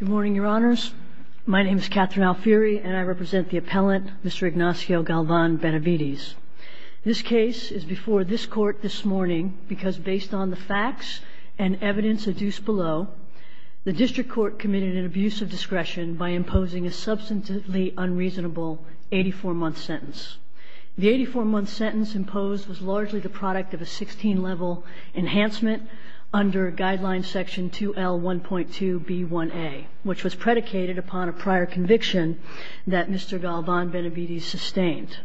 Good morning, your honors. My name is Catherine Alfieri, and I represent the appellant, Mr. Ignacio Galvan-Benavides. This case is before this court this morning because based on the facts and evidence adduced below, the district court committed an abuse of discretion by imposing a substantively unreasonable 84-month sentence. The 84-month sentence imposed was 2L1.2B1A, which was predicated upon a prior conviction that Mr. Galvan-Benavides sustained.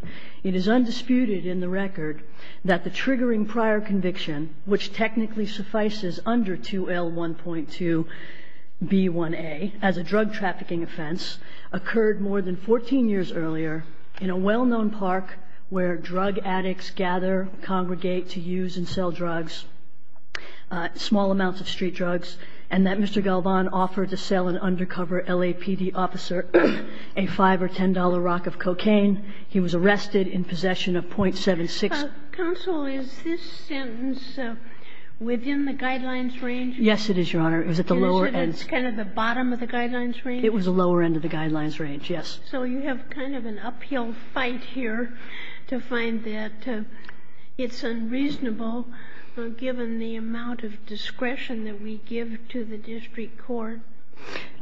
It is undisputed in the record that the triggering prior conviction, which technically suffices under 2L1.2B1A as a drug trafficking offense, occurred more than 14 years earlier in a well-known park where drug addicts gather, congregate to use and sell drugs, small amounts of street liquor, and so forth. Mr. Galvan offered to sell an undercover LAPD officer a $5 or $10 rock of cocaine. He was arrested in possession of .76. Counsel, is this sentence within the Guidelines range? Yes, it is, your honor. It was at the lower end. Is it at kind of the bottom of the Guidelines range? It was the lower end of the Guidelines range, yes. So you have kind of an uphill fight here to find that it's unreasonable, given the amount of discretion that we give to the district court?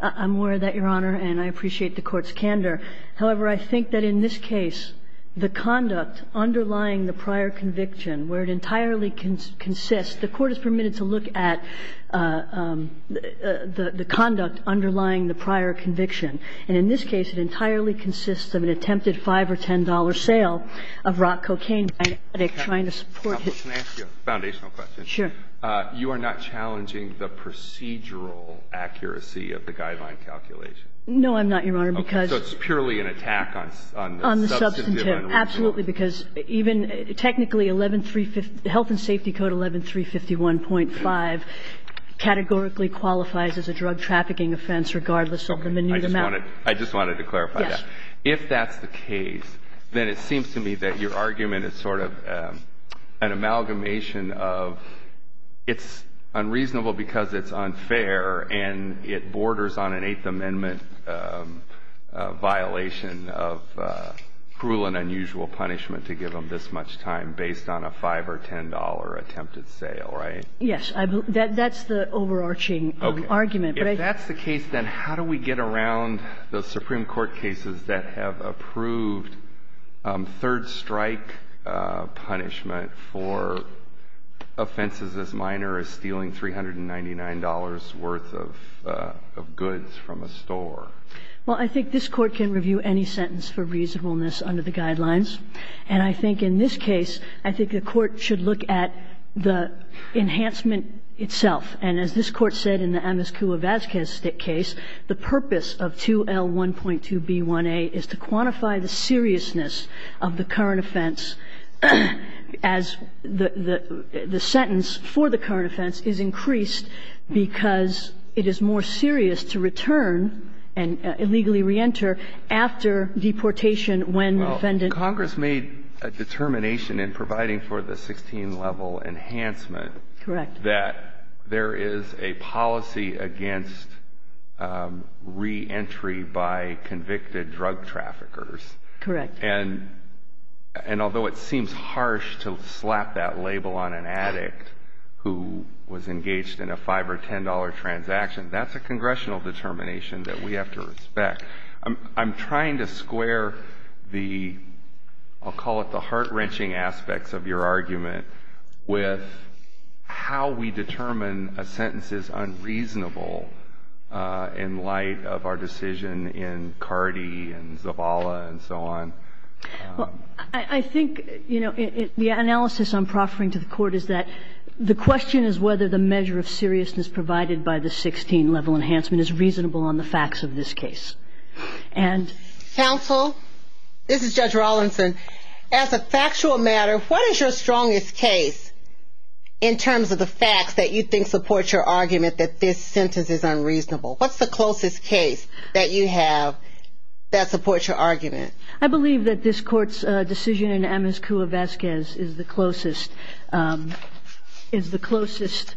I'm aware of that, your honor, and I appreciate the Court's candor. However, I think that in this case, the conduct underlying the prior conviction, where it entirely consists the Court is permitted to look at the conduct underlying the prior conviction, and in this case it entirely consists of an attempted $5 or $10 sale of rock cocaine by an addict trying to support his own. Can I ask you a foundational question? Sure. You are not challenging the procedural accuracy of the Guideline calculation? No, I'm not, your honor, because — So it's purely an attack on the substantive and the — On the substantive, absolutely, because even — technically, 113 — Health and Safety Code 11351.5 categorically qualifies as a drug trafficking offense, regardless of the minute amount. Okay. I just wanted — I just wanted to clarify that. Yes. If that's the case, then it seems to me that your argument is sort of an amalgamation of it's unreasonable because it's unfair and it borders on an Eighth Amendment violation of cruel and unusual punishment to give them this much time based on a $5 or $10 attempted sale, right? Yes. That's the overarching argument, but I — Okay. If that's the case, then how do we get around the Supreme Court cases that have approved third-strike punishment for offenses as minor as stealing $399 worth of goods from a store? Well, I think this Court can review any sentence for reasonableness under the Guidelines, and I think in this case, I think the Court should look at the enhancement itself. And as this Court said in the Amos Cua Vazquez case, the purpose of 2L1.2b1a is to quantify the seriousness of the current offense as the sentence for the current offense is increased because it is more serious to return and illegally reenter after deportation when the defendant — Well, Congress made a determination in providing for the 16-level enhancement — Correct. — that there is a policy against reentry by convicted drug traffickers. Correct. And although it seems harsh to slap that label on an addict who was engaged in a $5 or $10 transaction, that's a congressional determination that we have to respect. I'm trying to square the — I'll call it the heart-wrenching aspects of your argument with how we determine a sentence is unreasonable in light of our decision in Cardi and Zavala and so on. Well, I think, you know, the analysis I'm proffering to the Court is that the question is whether the measure of seriousness provided by the 16-level enhancement is reasonable on the facts of this case. Counsel, this is Judge Rawlinson. As a factual matter, what is your strongest case in terms of the facts that you think support your argument that this sentence is unreasonable? What's the closest case that you have that supports your argument? I believe that this Court's decision in Amos Cuevasquez is the closest — is the closest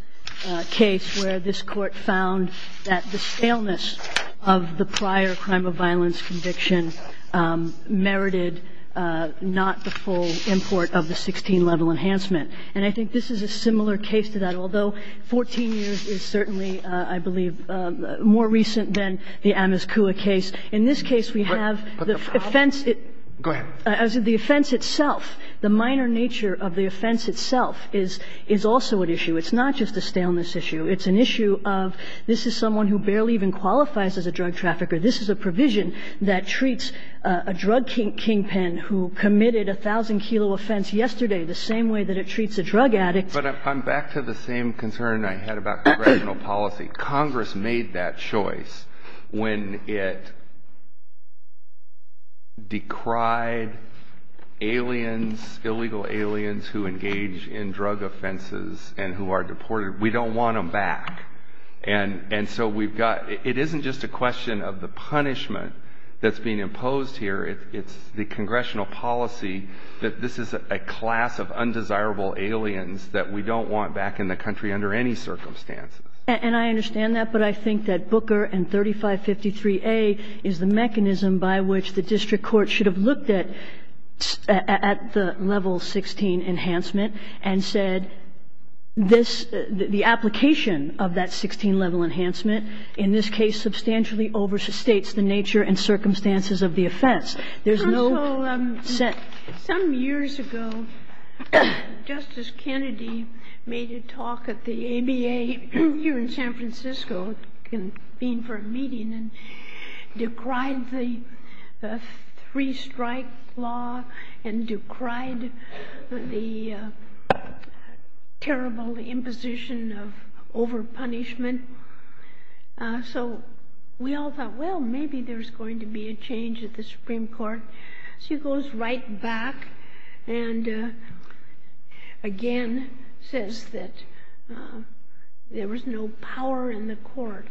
case where this Court found that the staleness of the prior crime of violence conviction merited not the full import of the 16-level enhancement. And I think this is a similar case to that, although 14 years is certainly, I believe, more recent than the Amos Cueva case. In this case, we have the offense — Go ahead. As the offense itself, the minor nature of the offense itself is also an issue. It's not just a staleness issue. It's an issue of this is someone who barely even qualifies as a drug trafficker. This is a provision that treats a drug kingpin who committed a thousand-kilo offense yesterday the same way that it treats a drug addict. But I'm back to the same concern I had about congressional policy. Congress made that choice when it decried aliens — illegal aliens who engage in drug offenses and who are deported. We don't want them back. And so we've got — it isn't just a question of the punishment that's being imposed here. It's the congressional policy that this is a class of undesirable aliens that we don't want back in the country under any circumstances. And I understand that. But I think that Booker and 3553A is the mechanism by which the district court should have looked at the level 16 enhancement and said this — the application of that 16-level enhancement in this case substantially overstates the nature and circumstances of the offense. There's no — Well, some years ago, Justice Kennedy made a talk at the ABA here in San Francisco convened for a meeting and decried the three-strike law and decried the terrible imposition of overpunishment. So we all thought, well, maybe there's going to be a change at the Supreme Court. She goes right back and again says that there was no power in the court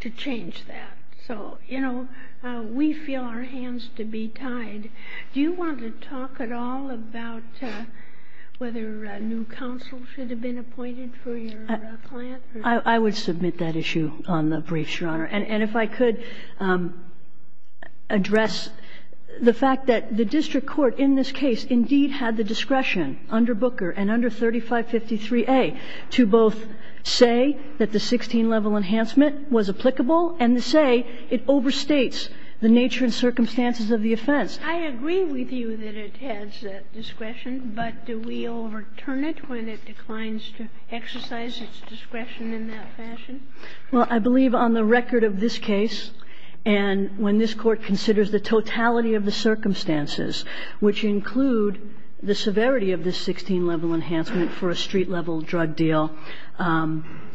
to change that. So, you know, we feel our hands to be tied. Do you want to talk at all about whether a new counsel should have been appointed for your client? I would submit that issue on the briefs, Your Honor. And if I could address the fact that the district court in this case indeed had the discretion under Booker and under 3553A to both say that the 16-level enhancement was applicable and to say it overstates the nature and circumstances of the offense. I agree with you that it has that discretion, but do we overturn it when it declines to exercise its discretion in that fashion? Well, I believe on the record of this case and when this Court considers the totality of the circumstances, which include the severity of this 16-level enhancement for a street-level drug deal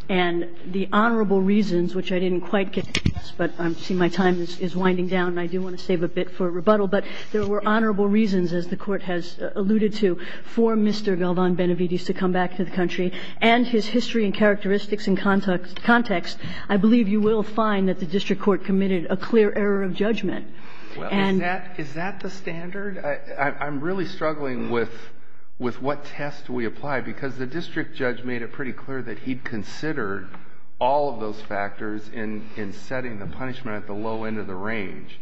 and the honorable reasons, which I didn't quite get to, but I see my time is winding down and I do want to save a bit for rebuttal. But there were honorable reasons, as the Court has alluded to, for Mr. Galvan-Benevides when he used to come back to the country and his history and characteristics and context. I believe you will find that the district court committed a clear error of judgment. Is that the standard? I'm really struggling with what test we apply because the district judge made it pretty clear that he considered all of those factors in setting the punishment at the low end of the range.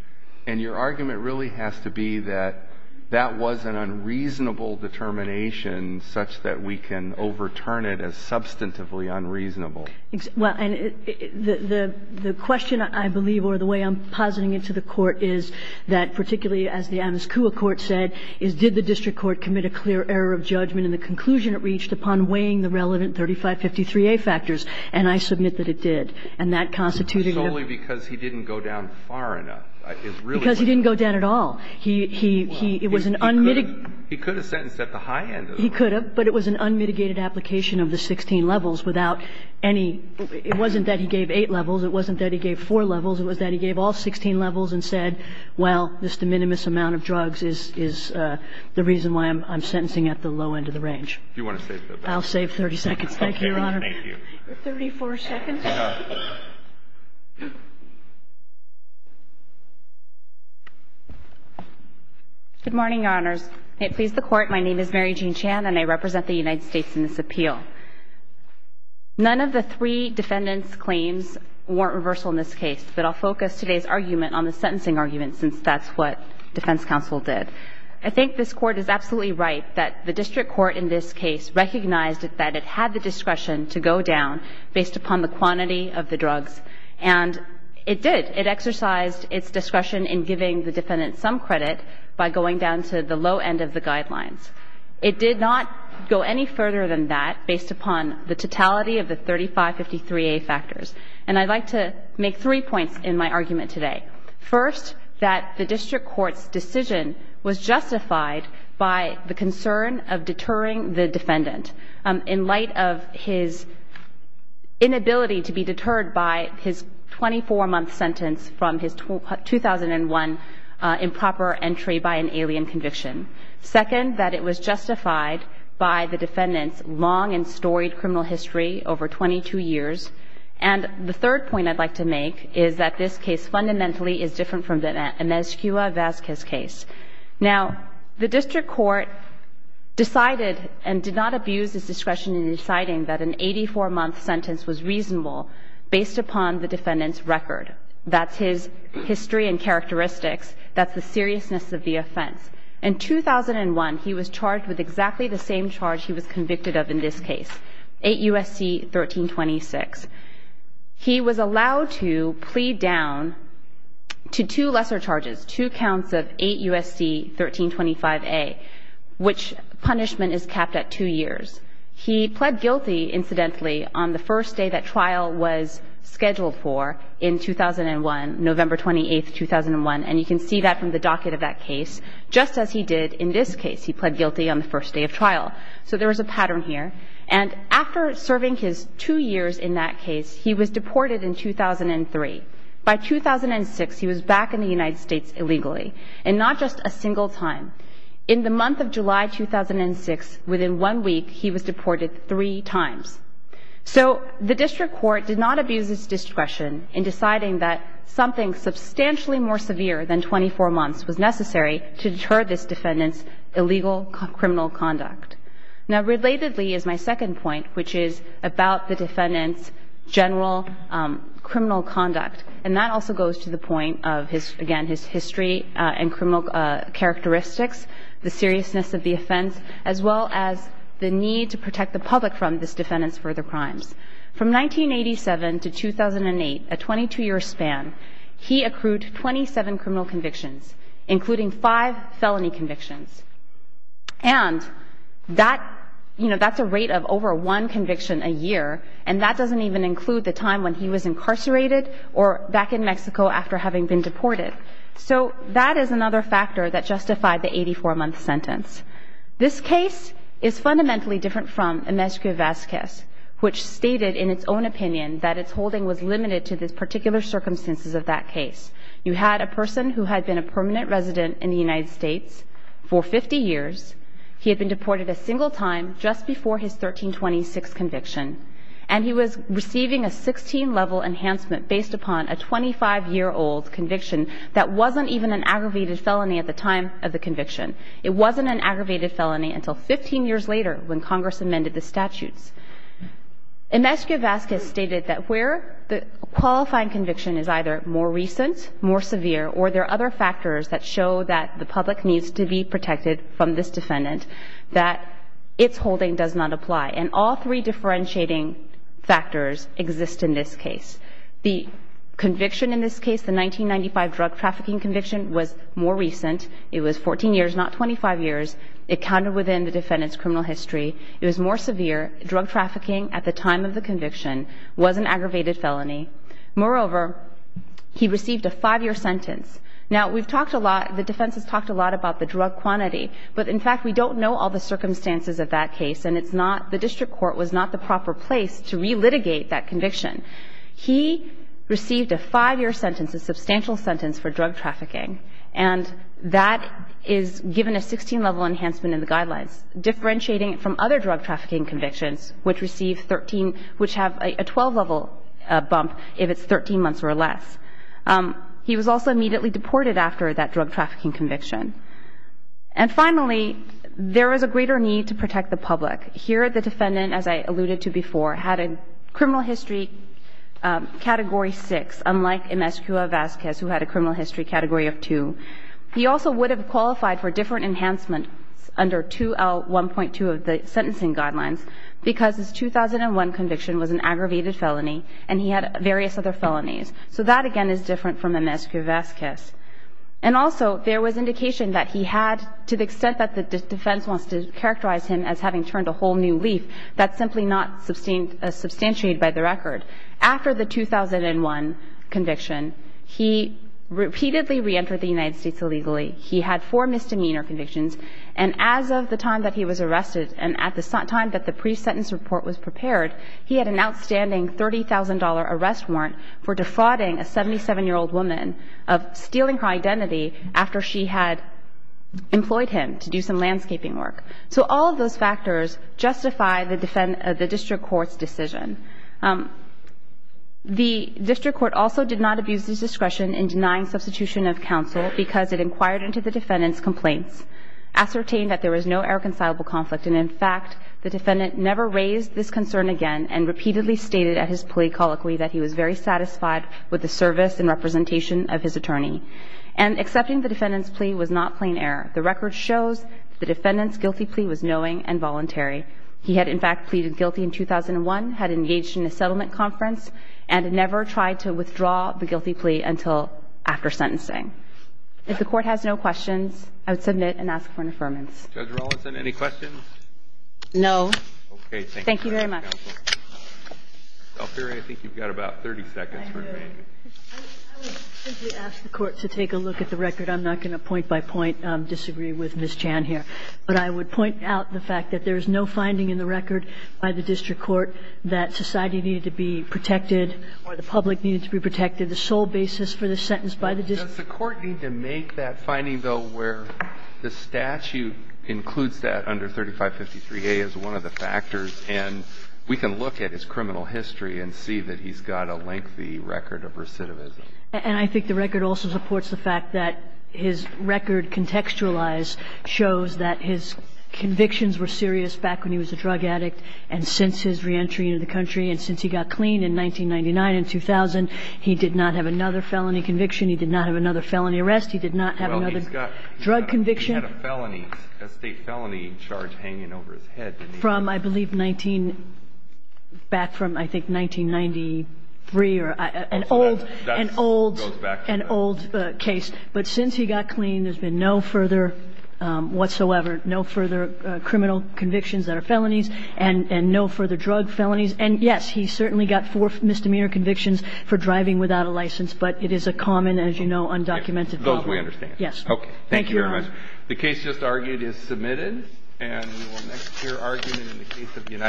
And your argument really has to be that that was an unreasonable determination such that we can overturn it as substantively unreasonable. Well, and the question, I believe, or the way I'm positing it to the Court is that particularly, as the Amos Cua court said, is did the district court commit a clear error of judgment in the conclusion it reached upon weighing the relevant 3553A factors. And I submit that it did. And that constituted a ---- It's solely because he didn't go down far enough. It's really what ---- He was an unmitigated ---- He could have sentenced at the high end of the range. He could have, but it was an unmitigated application of the 16 levels without any ---- it wasn't that he gave eight levels. It wasn't that he gave four levels. It was that he gave all 16 levels and said, well, this de minimis amount of drugs is the reason why I'm sentencing at the low end of the range. Do you want to save that? I'll save 30 seconds. Thank you, Your Honor. Thank you. Your 34 seconds. Good morning, Your Honors. May it please the Court, my name is Mary Jean Chan, and I represent the United States in this appeal. None of the three defendants' claims weren't reversal in this case, but I'll focus today's argument on the sentencing argument since that's what defense counsel did. I think this Court is absolutely right that the district court in this case recognized that it had the discretion to go down based upon the quantity of the drugs. And it did. It exercised its discretion in giving the defendant some credit by going down to the low end of the guidelines. It did not go any further than that based upon the totality of the 3553A factors. And I'd like to make three points in my argument today. First, that the district court's decision was justified by the concern of deterring the defendant in light of his inability to be deterred by his 24-month sentence from his 2001 improper entry by an alien conviction. Second, that it was justified by the defendant's long and storied criminal history over 22 years. And the third point I'd like to make is that this case fundamentally is different from the Emezkua-Vazquez case. Now, the district court decided and did not abuse its discretion in deciding that an 84-month sentence was reasonable based upon the defendant's record. That's his history and characteristics. That's the seriousness of the offense. In 2001, he was charged with exactly the same charge he was convicted of in this case, 8 U.S.C. 1326. He was allowed to plead down to two lesser charges, two counts of 8 U.S.C. 1325A, which punishment is capped at two years. He pled guilty, incidentally, on the first day that trial was scheduled for in 2001, November 28, 2001. And you can see that from the docket of that case, just as he did in this case. He pled guilty on the first day of trial. So there was a pattern here. And after serving his two years in that case, he was deported in 2003. By 2006, he was back in the United States illegally, and not just a single time. In the month of July 2006, within one week, he was deported three times. So the district court did not abuse its discretion in deciding that something substantially more severe than 24 months was necessary to deter this defendant's illegal criminal conduct. Now, relatedly is my second point, which is about the defendant's general criminal conduct. And that also goes to the point of his, again, his history and criminal characteristics, the seriousness of the offense, as well as the need to protect the public from this defendant's further crimes. From 1987 to 2008, a 22-year span, he accrued 27 criminal convictions, including five felony convictions. And that, you know, that's a rate of over one conviction a year, and that doesn't even include the time when he was incarcerated or back in Mexico after having been deported. So that is another factor that justified the 84-month sentence. This case is fundamentally different from Inmescu-Vazquez, which stated in its own opinion that its holding was limited to the particular circumstances of that case. You had a person who had been a permanent resident in the United States for 50 years. He had been deported a single time just before his 1326 conviction. And he was receiving a 16-level enhancement based upon a 25-year-old conviction that wasn't even an aggravated felony at the time of the conviction. It wasn't an aggravated felony until 15 years later when Congress amended the statutes. Inmescu-Vazquez stated that where the qualifying conviction is either more recent, more severe, or there are other factors that show that the public needs to be protected from this defendant, that its holding does not apply. And all three differentiating factors exist in this case. The conviction in this case, the 1995 drug trafficking conviction, was more recent. It was 14 years, not 25 years. It counted within the defendant's criminal history. It was more severe. Drug trafficking at the time of the conviction was an aggravated felony. Moreover, he received a five-year sentence. Now, we've talked a lot, the defense has talked a lot about the drug quantity. But, in fact, we don't know all the circumstances of that case. And it's not, the district court was not the proper place to relitigate that conviction. He received a five-year sentence, a substantial sentence for drug trafficking. And that is given a 16-level enhancement in the guidelines, differentiating it from other drug trafficking convictions, which receive 13, which have a 12-level bump if it's 13 months or less. He was also immediately deported after that drug trafficking conviction. And finally, there is a greater need to protect the public. Here, the defendant, as I alluded to before, had a criminal history category six, unlike MSQA Vasquez, who had a criminal history category of two. He also would have qualified for different enhancements under 2L1.2 of the sentencing guidelines because his 2001 conviction was an aggravated felony and he had various other felonies. So that, again, is different from MSQA Vasquez. And also, there was indication that he had, to the extent that the defense wants to characterize him as having turned a whole new leaf, that's simply not substantiated by the record. After the 2001 conviction, he repeatedly reentered the United States illegally. He had four misdemeanor convictions. And as of the time that he was arrested and at the time that the pre-sentence report was prepared, he had an outstanding $30,000 arrest warrant for defrauding a 77-year-old woman of stealing her identity after she had employed him to do some landscaping work. So all of those factors justify the district court's decision. The district court also did not abuse its discretion in denying substitution of counsel because it inquired into the defendant's complaints. It ascertained that there was no irreconcilable conflict. And, in fact, the defendant never raised this concern again and repeatedly stated at his plea colloquy that he was very satisfied with the service and representation of his attorney. And accepting the defendant's plea was not plain error. The record shows that the defendant's guilty plea was knowing and voluntary. He had, in fact, pleaded guilty in 2001, had engaged in a settlement conference, and had never tried to withdraw the guilty plea until after sentencing. If the Court has no questions, I would submit and ask for an affirmance. Judge Rollinson, any questions? No. Thank you very much. Thank you, counsel. Ms. Alfieri, I think you've got about 30 seconds remaining. I would simply ask the Court to take a look at the record. I'm not going to point by point disagree with Ms. Chan here. But I would point out the fact that there is no finding in the record by the district court that society needed to be protected or the public needed to be protected. The sole basis for this sentence by the district court is that the public And the court needs to be protected on the sole basis for the sentence by the district court. Does the Court need to make that finding, though, where the statute includes that under 3553a as one of the factors? And we can look at his criminal history and see that he's got a lengthy record of recidivism. And I think the record also supports the fact that his record contextualized shows that his convictions were serious back when he was a drug addict and since his reentry into the country and since he got clean in 1999 and 2000, he did not have another felony conviction. He did not have another felony arrest. He did not have another drug conviction. He had a felony, a state felony charge hanging over his head. From, I believe, 19 – back from, I think, 1993 or – an old, an old, an old case. But since he got clean, there's been no further whatsoever, no further criminal convictions that are felonies and no further drug felonies. And, yes, he certainly got four misdemeanor convictions for driving without a license. But it is a common, as you know, undocumented problem. Those we understand. Yes. Okay. Thank you very much. The case just argued is submitted. And we will next hear argument in the case of United States.